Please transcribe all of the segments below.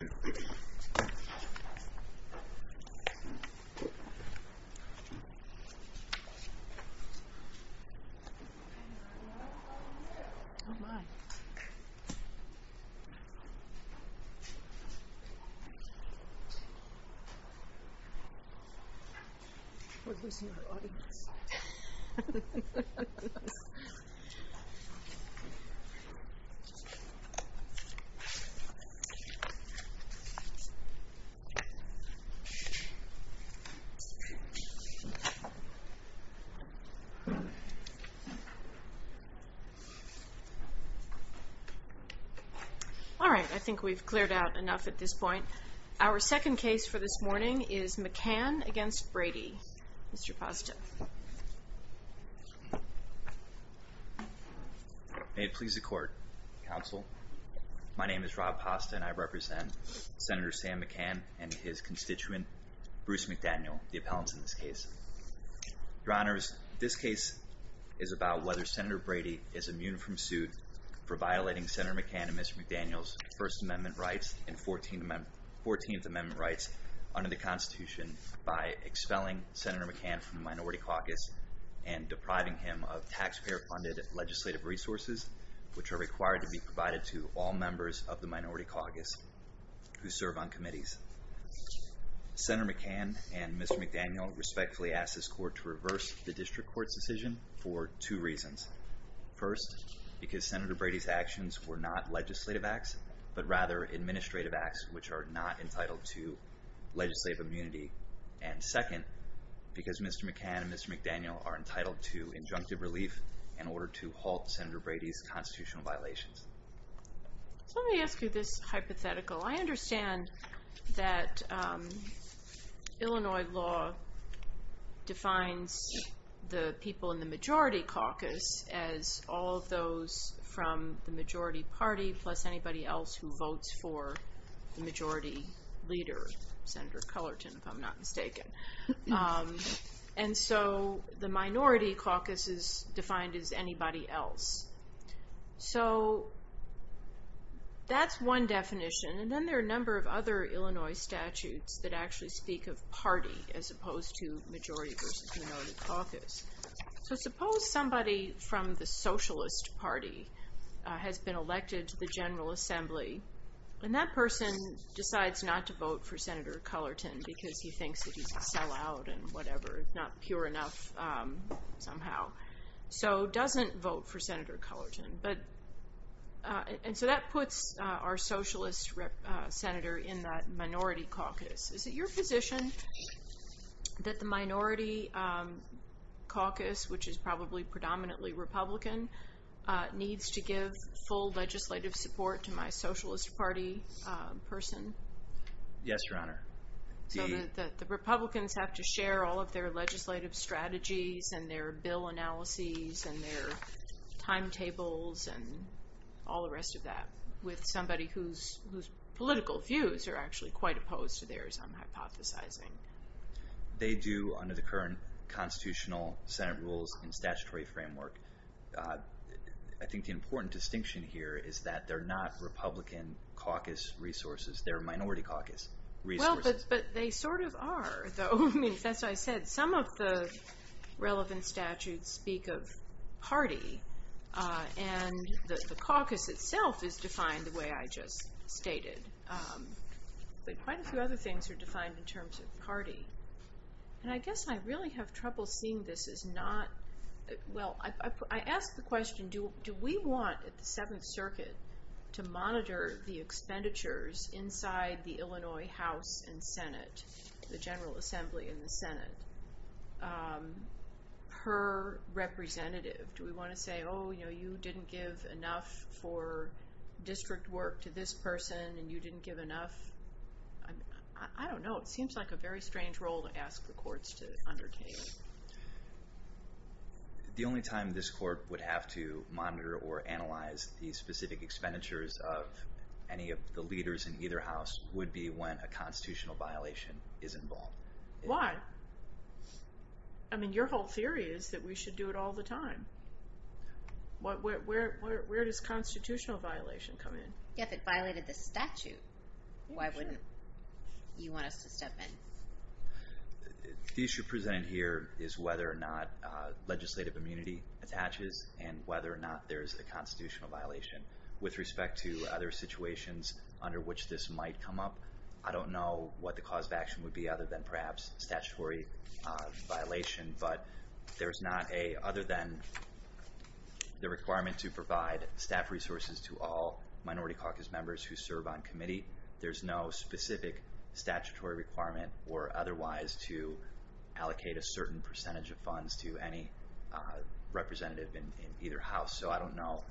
There's only one action for a victim. All right, I think we've cleared out enough at this point. Our second case for this morning is McCann against Brady. Mr. Pasta. May it please the court, counsel. My name is Rob Pasta and I represent Senator Sam McCann and his constituent, Bruce McDaniel, the appellant in this case. Your honors, this case is about whether Senator Brady is immune from suit for violating Senator McCann and Mr. McDaniel's First Amendment rights and Fourteenth Amendment rights under the Constitution by expelling Senator McCann from the Minority Caucus and depriving him of taxpayer-funded legislative resources, which are required to be provided to all members of the Minority Caucus who serve on committees. Senator McCann and Mr. McDaniel respectfully ask this court to reverse the district court's decision for two reasons. First, because Senator Brady's actions were not legislative acts, but rather administrative acts which are not entitled to legislative immunity. And second, because Mr. McCann and Mr. McDaniel are entitled to injunctive relief in order to halt Senator Brady's constitutional violations. So let me ask you this hypothetical. I understand that Illinois law defines the people in the Majority Caucus as all of those from the majority party plus anybody else who votes for the majority leader, Senator Cullerton, if I'm not mistaken. And so the Minority Caucus is defined as anybody else. So that's one definition, and then there are a number of other Illinois statutes that actually speak of party as opposed to majority versus minority caucus. So suppose somebody from the Socialist Party has been elected to the General Assembly and that person decides not to vote for Senator Cullerton because he thinks that he's a sellout and whatever, not pure enough somehow. So doesn't vote for Senator Cullerton. And so that puts our Socialist Senator in that Minority Caucus. Is it your position that the Minority Caucus, which is probably predominantly Republican, needs to give full legislative support to my Socialist Party person? Yes, Your Honor. So that the Republicans have to share all of their legislative strategies and their bill analyses and their timetables and all the rest of that with somebody whose political views are actually quite opposed to theirs, I'm hypothesizing. They do under the current constitutional Senate rules and statutory framework. I think the important distinction here is that they're not Republican caucus resources. They're Minority Caucus resources. But they sort of are, though, I mean, that's what I said. Some of the relevant statutes speak of party, and the caucus itself is defined the way I just stated. But quite a few other things are defined in terms of party. And I guess I really have trouble seeing this as not, well, I ask the question, do we want at the Seventh Circuit to monitor the expenditures inside the Illinois House and Senate, the General Assembly and the Senate, per representative? Do we want to say, oh, you know, you didn't give enough for district work to this person, and you didn't give enough? I don't know. It seems like a very strange role to ask the courts to undertake. The only time this court would have to monitor or analyze the specific expenditures of any of the leaders in either house would be when a constitutional violation is involved. Why? I mean, your whole theory is that we should do it all the time. Where does constitutional violation come in? If it violated this statute, why wouldn't you want us to step in? The issue presented here is whether or not legislative immunity attaches, and whether or not there's a constitutional violation. With respect to other situations under which this might come up, I don't know what the cause of action would be other than perhaps statutory violation, but there's not a, other than the requirement to provide staff resources to all minority caucus members who serve on committee, there's no specific statutory requirement or otherwise to allocate a certain percentage of funds to any representative in either house. So I don't know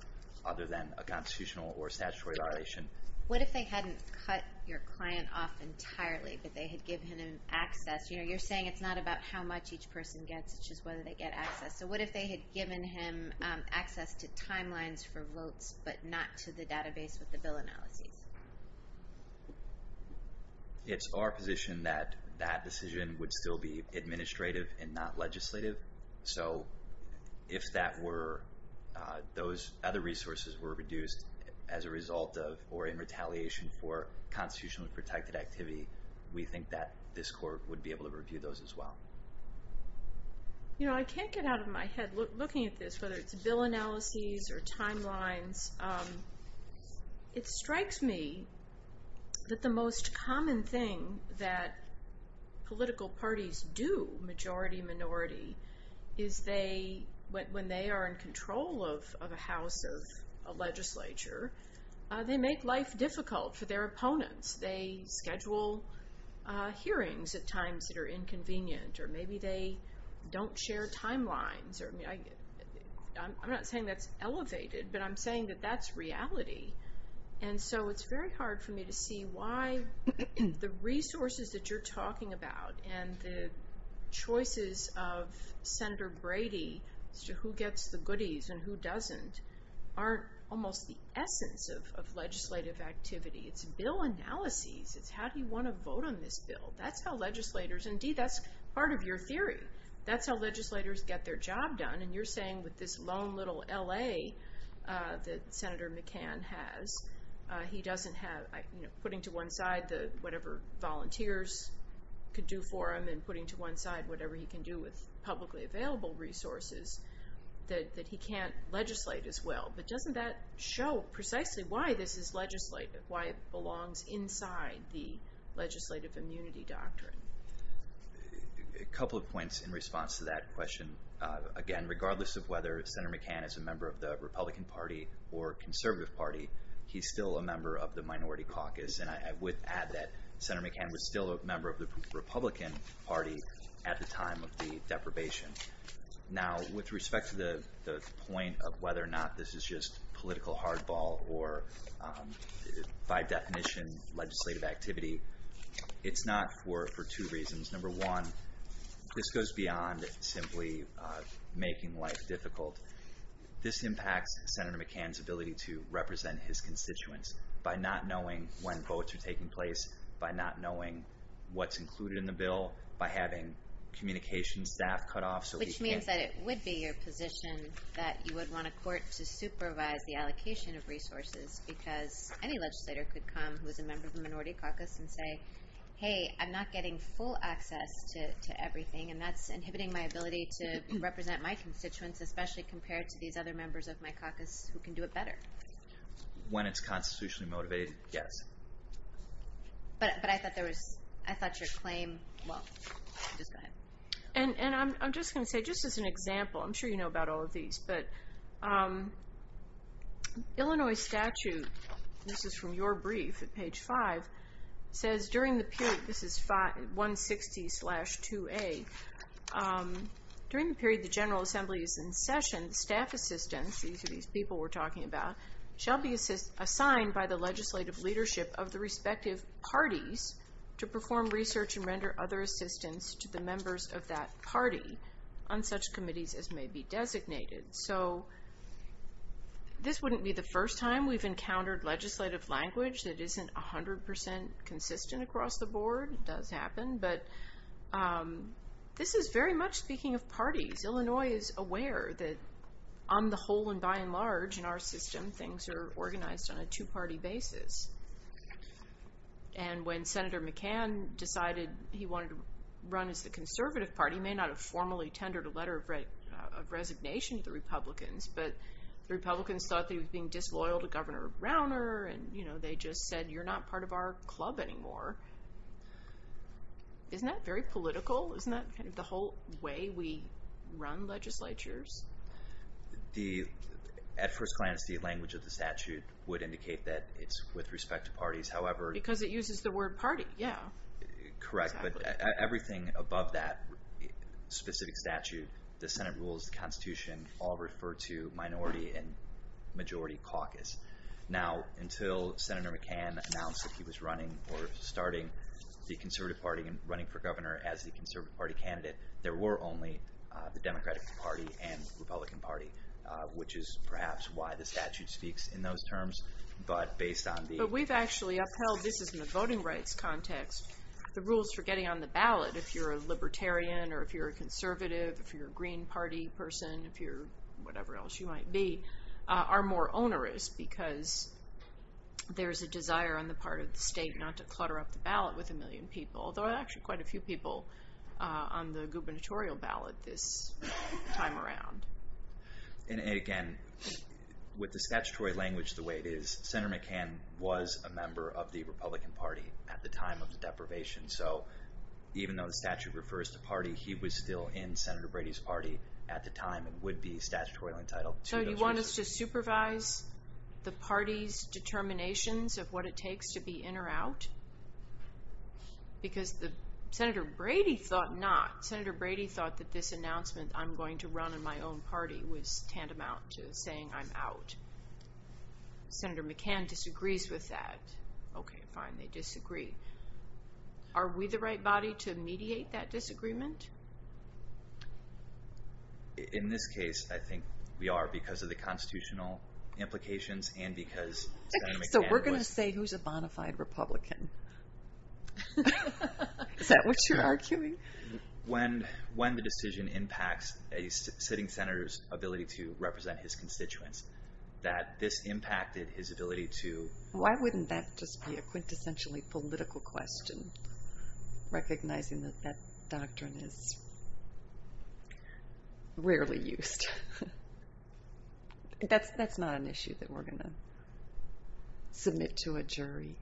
other than a constitutional or statutory violation. What if they hadn't cut your client off entirely, but they had given him access? You're saying it's not about how much each person gets, it's just whether they get access. So what if they had given him access to timelines for votes, but not to the database with the bill analyses? It's our position that that decision would still be administrative and not legislative. So if that were, those other resources were reduced as a result of, or in retaliation for constitutionally protected activity, we think that this court would be able to review those as well. You know, I can't get out of my head looking at this, whether it's bill analyses or timelines. It strikes me that the most common thing that political parties do, majority, minority, is they, when they are in control of a house or a legislature, they make life difficult for their opponents. They schedule hearings at times that are inconvenient, or maybe they don't share timelines. I'm not saying that's elevated, but I'm saying that that's reality. And so it's very hard for me to see why the resources that you're talking about and the choices of Senator Brady as to who gets the goodies and who doesn't, aren't almost the essence of legislative activity. It's bill analyses. It's how do you want to vote on this bill? That's how legislators, indeed, that's part of your theory. That's how legislators get their job done. And you're saying with this lone little L.A. that Senator McCann has, he doesn't have, putting to one side whatever volunteers could do for him and putting to one side whatever he can do with publicly available resources, that he can't legislate as well. But doesn't that show precisely why this is legislative, why it belongs inside the legislative immunity doctrine? A couple of points in response to that question. Again, regardless of whether Senator McCann is a member of the Republican Party or Conservative Party, he's still a member of the minority caucus. And I would add that Senator McCann was still a member of the Republican Party at the time of the deprivation. Now, with respect to the point of whether or not this is just political hardball or, by definition, legislative activity, it's not for two reasons. Number one, this goes beyond simply making life difficult. This impacts Senator McCann's ability to represent his constituents by not knowing when votes are taking place, by not knowing what's included in the bill, by having communications staff cut off so he can't... Which means that it would be your position that you would want a court to supervise the allocation of resources because any legislator could come who is a member of the minority caucus and say, hey, I'm not getting full access to everything and that's inhibiting my ability to represent my constituents, especially compared to these other members of my caucus who can do it better. When it's constitutionally motivated, yes. But I thought your claim... Well, just go ahead. And I'm just going to say, just as an example, I'm sure you know about all of these, but Illinois statute, this is from your brief at page 5, says during the period, this is 160-2A, during the period the General Assembly is in session, staff assistants, these are these people we're talking about, shall be assigned by the legislative leadership of the respective parties to perform research and render other assistance to the members of that party on such committees as may be designated. So this wouldn't be the first time we've encountered legislative language that isn't 100% consistent across the board. It does happen. But this is very much speaking of parties. Because Illinois is aware that on the whole and by and large in our system, things are organized on a two-party basis. And when Senator McCann decided he wanted to run as the conservative party, he may not have formally tendered a letter of resignation to the Republicans, but the Republicans thought they were being disloyal to Governor Rauner and they just said, you're not part of our club anymore. Isn't that very political? Isn't that kind of the whole way we run legislatures? At first glance, the language of the statute would indicate that it's with respect to parties. Because it uses the word party, yeah. Correct, but everything above that specific statute, the Senate rules, the Constitution, all refer to minority and majority caucus. Now, until Senator McCann announced that he was running or starting the conservative party and running for governor as the conservative party candidate, there were only the Democratic Party and Republican Party, which is perhaps why the statute speaks in those terms. But based on the... But we've actually upheld, this is in the voting rights context, the rules for getting on the ballot, if you're a libertarian or if you're a conservative, if you're a Green Party person, if you're whatever else you might be, are more onerous because there's a desire on the part of the state not to clutter up the ballot with a million people, although actually quite a few people on the gubernatorial ballot this time around. And again, with the statutory language the way it is, Senator McCann was a member of the Republican Party at the time of the deprivation. So even though the statute refers to party, he was still in Senator Brady's party at the time and would be statutorily entitled to... So you want us to supervise the party's determinations of what it takes to be in or out? Because Senator Brady thought not. Senator Brady thought that this announcement, I'm going to run in my own party, was tantamount to saying I'm out. Senator McCann disagrees with that. Okay, fine, they disagree. Are we the right body to mediate that disagreement? In this case, I think we are because of the constitutional implications and because Senator McCann was... So we're going to say who's a bonafide Republican? Is that what you're arguing? When the decision impacts a sitting senator's ability to represent his constituents, that this impacted his ability to... Why wouldn't that just be a quintessentially political question, recognizing that that doctrine is rarely used? That's not an issue that we're going to submit to a jury.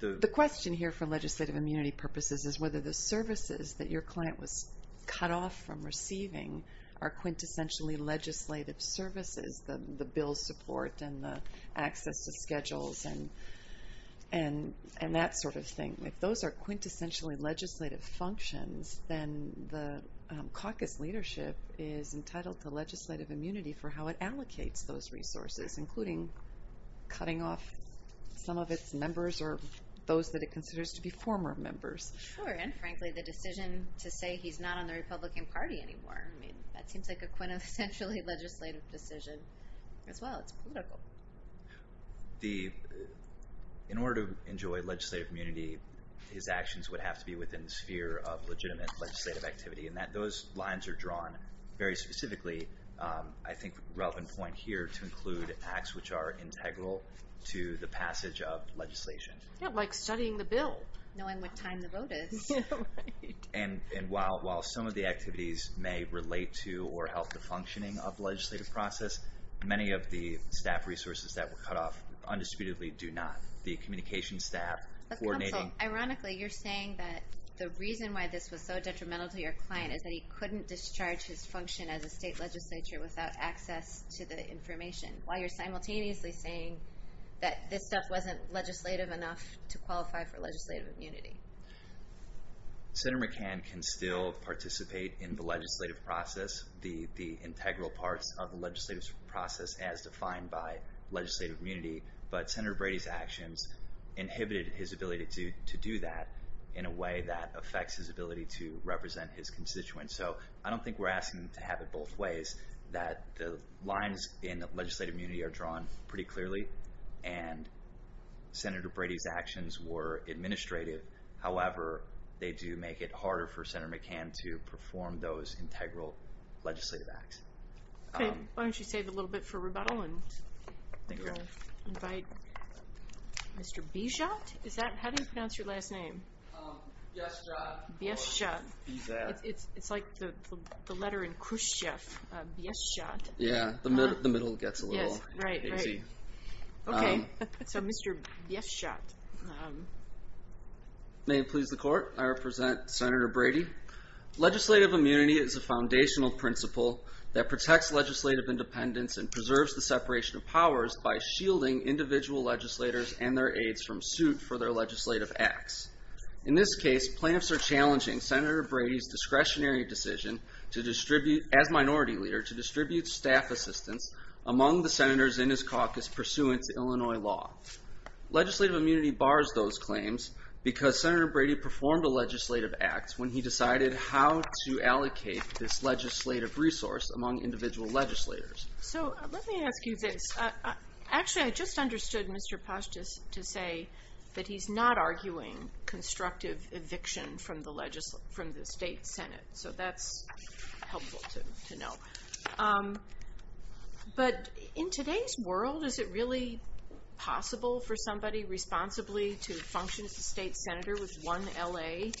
The question here for legislative immunity purposes is whether the services that your client was cut off from receiving are quintessentially legislative services, the bill support and the access to schedules and that sort of thing. If those are quintessentially legislative functions, then the caucus leadership is entitled to legislative immunity for how it allocates those resources, including cutting off some of its members or those that it considers to be former members. Sure, and frankly, the decision to say he's not on the Republican Party anymore. That seems like a quintessentially legislative decision as well. It's political. In order to enjoy legislative immunity, his actions would have to be within the sphere of legitimate legislative activity, and those lines are drawn very specifically to include acts which are integral to the passage of legislation. Like studying the bill. Knowing what time the vote is. And while some of the activities may relate to or help the functioning of the legislative process, many of the staff resources that were cut off undisputedly do not. But counsel, ironically, you're saying that the reason why this was so detrimental to your client is that he couldn't discharge his function as a state legislature without access to the information, while you're simultaneously saying that this stuff wasn't legislative enough to qualify for legislative immunity. Senator McCann can still participate in the legislative process, the integral parts of the legislative process as defined by legislative immunity, but Senator Brady's actions inhibited his ability to do that in a way that affects his ability to represent his constituents. So I don't think we're asking him to have it both ways, that the lines in legislative immunity are drawn pretty clearly, and Senator Brady's actions were administrative. However, they do make it harder for Senator McCann to perform those integral legislative acts. Why don't you save a little bit for rebuttal and invite Mr. Bijot? How do you pronounce your last name? Bijot. Bijot. It's like the letter in Khrushchev, Bijot. Yeah, the middle gets a little hazy. Okay, so Mr. Bijot. May it please the Court, I represent Senator Brady. Legislative immunity is a foundational principle that protects legislative independence and preserves the separation of powers by shielding individual legislators and their aides from suit for their legislative acts. In this case, plaintiffs are challenging Senator Brady's discretionary decision as Minority Leader to distribute staff assistance among the Senators in his caucus pursuant to Illinois law. Legislative immunity bars those claims because Senator Brady performed a legislative act when he decided how to allocate this legislative resource among individual legislators. So let me ask you this. Actually, I just understood Mr. Paschus to say that he's not arguing constructive eviction from the State Senate. So that's helpful to know. But in today's world, is it really possible for somebody responsibly to function as a State Senator with one L.A.?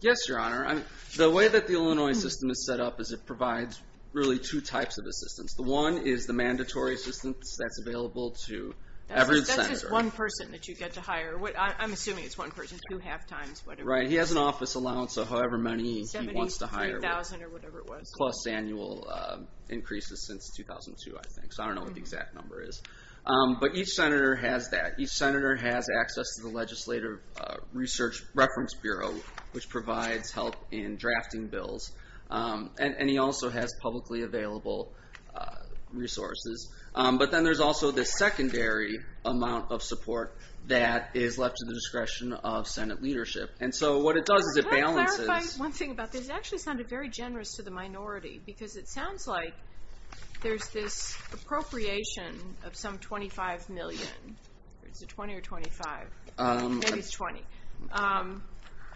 Yes, Your Honor. The way that the Illinois system is set up is it provides really two types of assistance. One is the mandatory assistance that's available to every Senator. That's just one person that you get to hire. I'm assuming it's one person, two halftimes, whatever. Right, he has an office allowance of however many he wants to hire. 73,000 or whatever it was. Plus annual increases since 2002, I think. So I don't know what the exact number is. But each Senator has that. Each Senator has access to the Legislative Research Reference Bureau which provides help in drafting bills. And he also has publicly available resources. But then there's also the secondary amount of support that is left to the discretion of Senate leadership. And so what it does is it balances... Can I clarify one thing about this? It actually sounded very generous to the minority because it sounds like there's this appropriation of some $25 million. Is it $20 or $25? Maybe it's $20.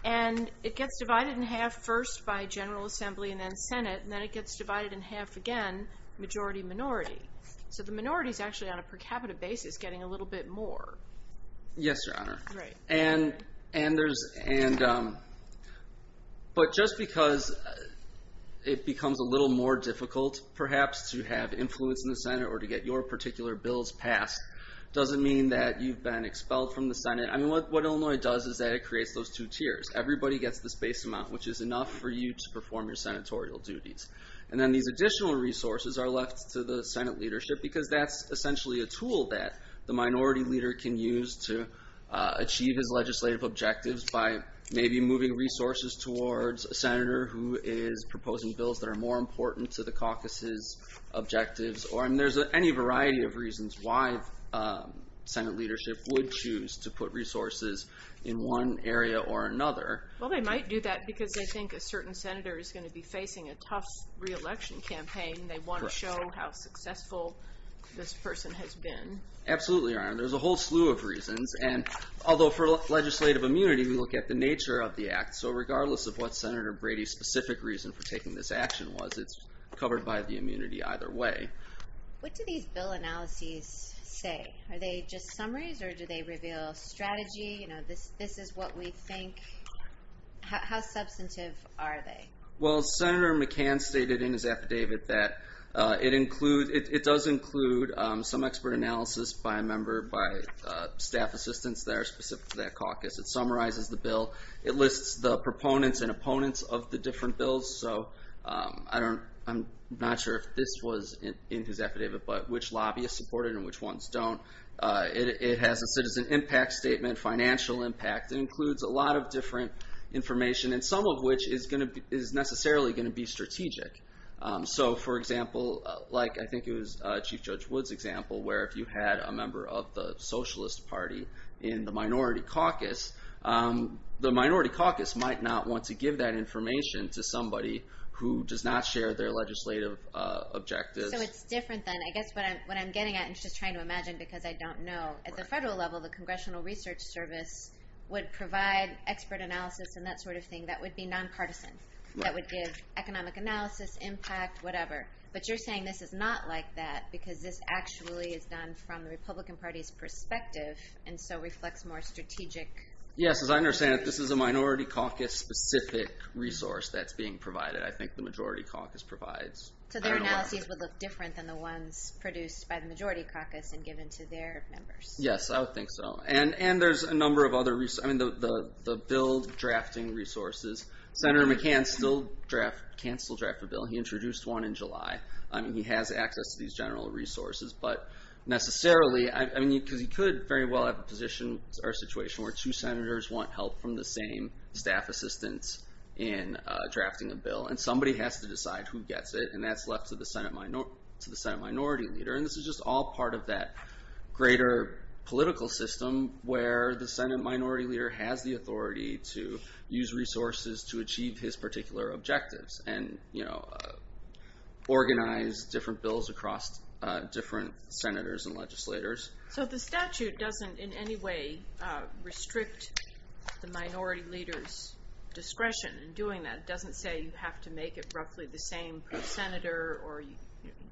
And it gets divided in half first by General Assembly and then Senate and then it gets divided in half again, majority-minority. So the minority is actually on a per capita basis getting a little bit more. Yes, Your Honor. Right. But just because it becomes a little more difficult, perhaps, to have influence in the Senate or to get your particular bills passed doesn't mean that you've been expelled from the Senate. What Illinois does is that it creates those two tiers. Everybody gets this base amount which is enough for you to perform your Senatorial duties. And then these additional resources are left to the Senate leadership because that's essentially a tool that the minority leader can use to achieve his legislative objectives by maybe moving resources towards a Senator who is proposing bills that are more important to the caucus's objectives. And there's any variety of reasons why Senate leadership would choose to put resources in one area or another. Well, they might do that because they think a certain Senator is going to be facing a tough re-election campaign. They want to show how successful this person has been. Absolutely, Your Honor. There's a whole slew of reasons. Although for legislative immunity, we look at the nature of the Act. So regardless of what Senator Brady's specific reason for taking this action was, it's covered by the immunity either way. What do these bill analyses say? Are they just summaries? Or do they reveal strategy? How substantive are they? Well, Senator McCann stated in his affidavit that it does include some expert analysis by a member, by staff assistants that are specific to that caucus. It summarizes the bill. It lists the proponents and opponents of the different bills. I'm not sure if this was in his affidavit, but which lobbyists support it and which ones don't. It has a citizen impact statement, financial impact. It includes a lot of different information and some of which is necessarily going to be strategic. So for example, I think it was Chief Judge Wood's example where if you had a member of the Socialist Party in the minority caucus, the minority caucus might not want to give that information to somebody who does not share their legislative objectives. So it's different then. I guess what I'm getting at, and I'm just trying to imagine because I don't know, at the federal level the Congressional Research Service would provide expert analysis and that sort of thing that would be non-partisan. That would give economic analysis, impact, whatever. But you're saying this is not like that because this actually is done from the Republican Party's perspective and so reflects more strategic... Yes, as I understand it, this is a minority caucus specific resource that's being provided, I think the majority caucus provides. So their analysis would look different than the ones produced by the majority caucus and given to their members. Yes, I would think so. And there's a number of other resources. Senator McCann can still draft a bill. He introduced one in July. He has access to these general resources. But necessarily, because he could very well have a position or situation where two senators want help from the same staff assistant in drafting a bill and somebody has to decide who gets it and that's left to the Senate Minority Leader. And this is just all part of that greater political system where the Senate Minority Leader has the authority to use resources to achieve his particular objectives and organize different bills across different senators and legislators. So the statute doesn't in any way restrict the minority leader's discretion in doing that. It doesn't say you have to make it roughly the same per senator.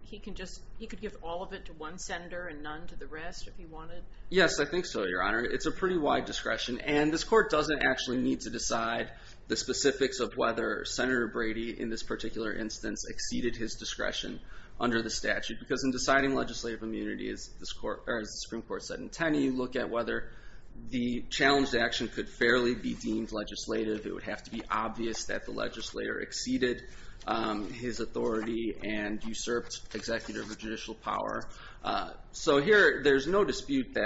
He could give all of it to one senator and none to the rest if he wanted. Yes, I think so, Your Honor. It's a pretty wide discretion. And this court doesn't actually need to decide the specifics of whether Senator Brady, in this particular instance, exceeded his discretion under the statute because in deciding legislative immunity, as the Supreme Court said in 10, you look at whether the challenged action could fairly be deemed legislative. It would have to be obvious that the legislator exceeded his authority and usurped executive or judicial power. So here, there's no dispute that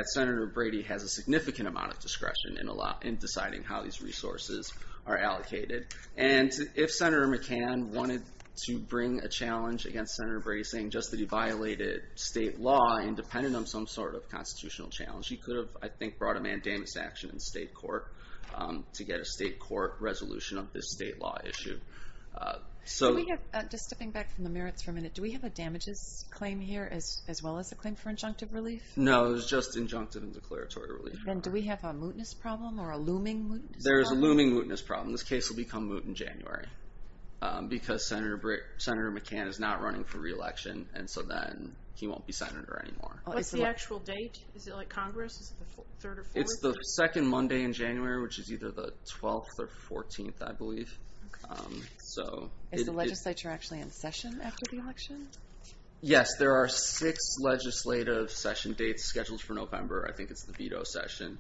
in deciding how these resources are allocated. And if Senator McCann wanted to bring a challenge against Senator Brady, saying just that he violated state law independent of some sort of constitutional challenge, he could have, I think, brought a mandamus action in state court to get a state court resolution of this state law issue. Just stepping back from the merits for a minute, do we have a damages claim here as well as a claim for injunctive relief? No, it was just injunctive and declaratory relief. And do we have a mootness problem or a looming mootness problem? There is a looming mootness problem. This case will become moot in January because Senator McCann is not running for re-election and so then he won't be Senator anymore. What's the actual date? Is it like Congress? It's the second Monday in January, which is either the 12th or 14th, I believe. Is the legislature actually in session after the election? Yes, there are six legislative session dates scheduled for November. I think it's the veto session.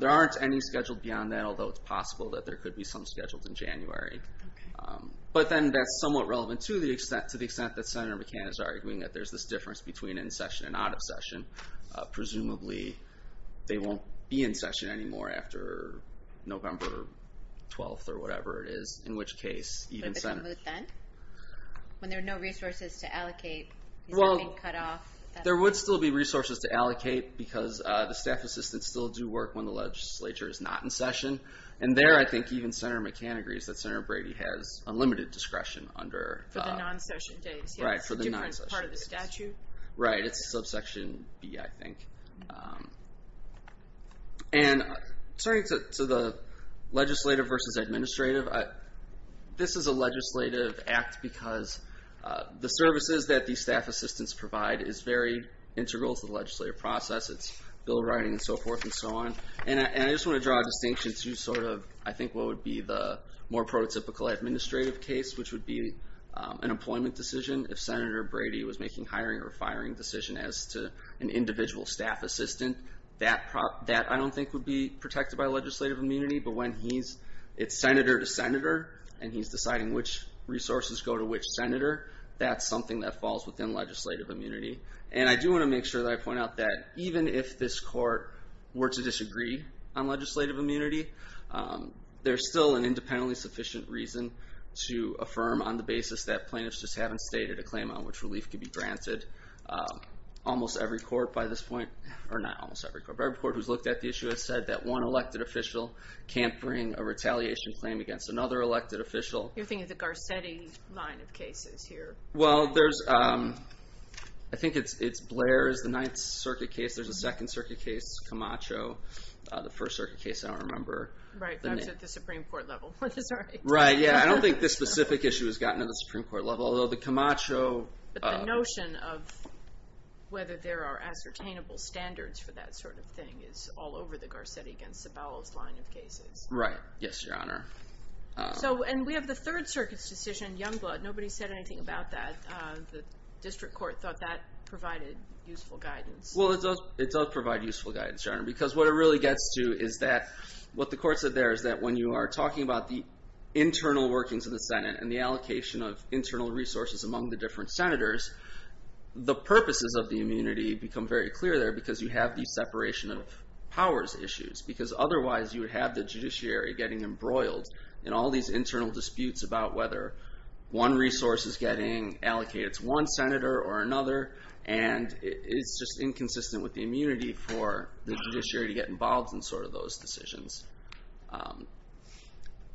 There aren't any scheduled beyond that, although it's possible that there could be some scheduled in January. But then that's somewhat relevant to the extent that Senator McCann is arguing that there's this difference between in session and out of session. Presumably, they won't be in session anymore after November 12th or whatever it is, in which case, even Senate... But it's a moot then? When there are no resources to allocate? Well, there would still be resources to allocate because the staff assistants still do work when the legislature is not in session. And there, I think, even Senator McCann agrees that Senator Brady has unlimited discretion under... For the non-session days. Right, for the non-session days. It's a different part of the statute. Right, it's subsection B, I think. And turning to the legislative versus administrative, this is a legislative act because the services that these staff assistants provide is very integral to the legislative process. It's bill writing and so forth and so on. And I just want to draw a distinction to sort of, I think, what would be the more prototypical administrative case, which would be an employment decision. If Senator Brady was making hiring or firing decision as to an individual staff assistant, that I don't think would be protected by legislative immunity. But when he's... resources go to which senator, that's something that falls within legislative immunity. And I do want to make sure that I point out that even if this court were to disagree on legislative immunity, there's still an independently sufficient reason to affirm on the basis that plaintiffs just haven't stated a claim on which relief could be granted. Almost every court by this point, or not almost every court, but every court who's looked at the issue has said that one elected official can't bring a retaliation claim against another elected official. You're thinking of the Garcetti line of cases here? Well, there's I think it's Blair's, the Ninth Circuit case, there's a Second Circuit case, Camacho, the First Circuit case, I don't remember. Right, that's at the Supreme Court level. Right, yeah, I don't think this specific issue has gotten to the Supreme Court level, although the Camacho... But the notion of whether there are ascertainable standards for that sort of thing is all over the Garcetti against the Bowles line of cases. Right, yes, Your Honor. So, and we have the Third Circuit's decision, Youngblood, nobody said anything about that. The district court thought that provided useful guidance. Well, it does provide useful guidance, Your Honor, because what it really gets to is that, what the court said there is that when you are talking about the internal workings of the Senate and the allocation of internal resources among the different Senators, the purposes of the immunity become very clear there because you have the separation of powers issues, because otherwise you would have the judiciary getting embroiled in all these internal disputes about whether one resource is getting allocated to one Senator or another and it's just inconsistent with the immunity for the judiciary to get involved in sort of those decisions.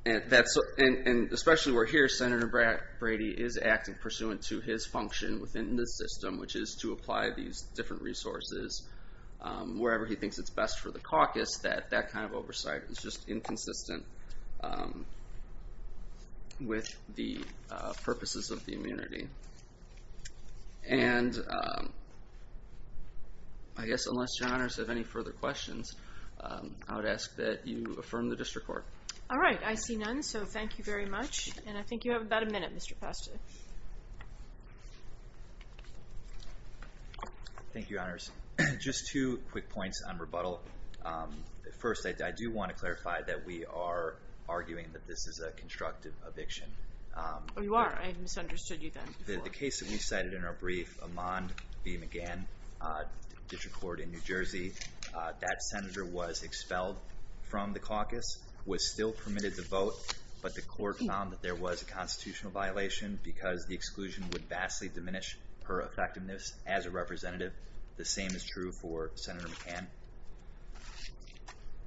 And especially where here Senator Brady is acting pursuant to his function within the system which is to apply these different resources wherever he thinks it's best for the caucus, that kind of oversight is just inconsistent with the purposes of the immunity. And I guess unless Your Honors have any further questions, I would ask that you affirm the district court. All right, I see none, so thank you very much. And I think you have about a minute, Mr. Pastor. Thank you, Your Honors. Just two quick points on rebuttal. First, I do want to clarify that we are arguing that this is a constructive eviction. Oh, you are? I misunderstood you then. The case that we cited in our brief, Amand B. McGann, district court in New Jersey, that Senator was expelled from the caucus, was still permitted to vote, but the court found that there was a constitutional violation because the exclusion would vastly diminish her effectiveness as a representative. The same is true for Senator McGann.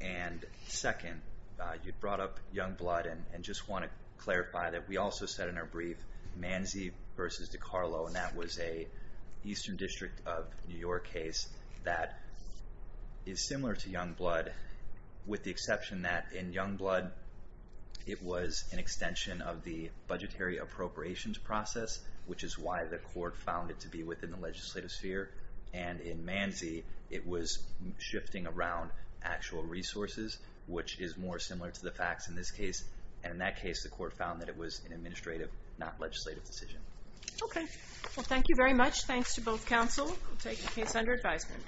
And second, you brought up Youngblood and just want to clarify that we also said in our brief Manzi v. DiCarlo, and that was a Eastern District of New York case that is similar to Youngblood with the exception that in Youngblood it was an extension of the budgetary appropriations process, which is why the court found it to be within the legislative sphere. And in Manzi, it was shifting around actual resources, which is more similar to the facts in this case. And in that case, the court found that it was an administrative, not legislative, decision. Thank you very much. Thanks to both counsel. We'll take the case under advisement.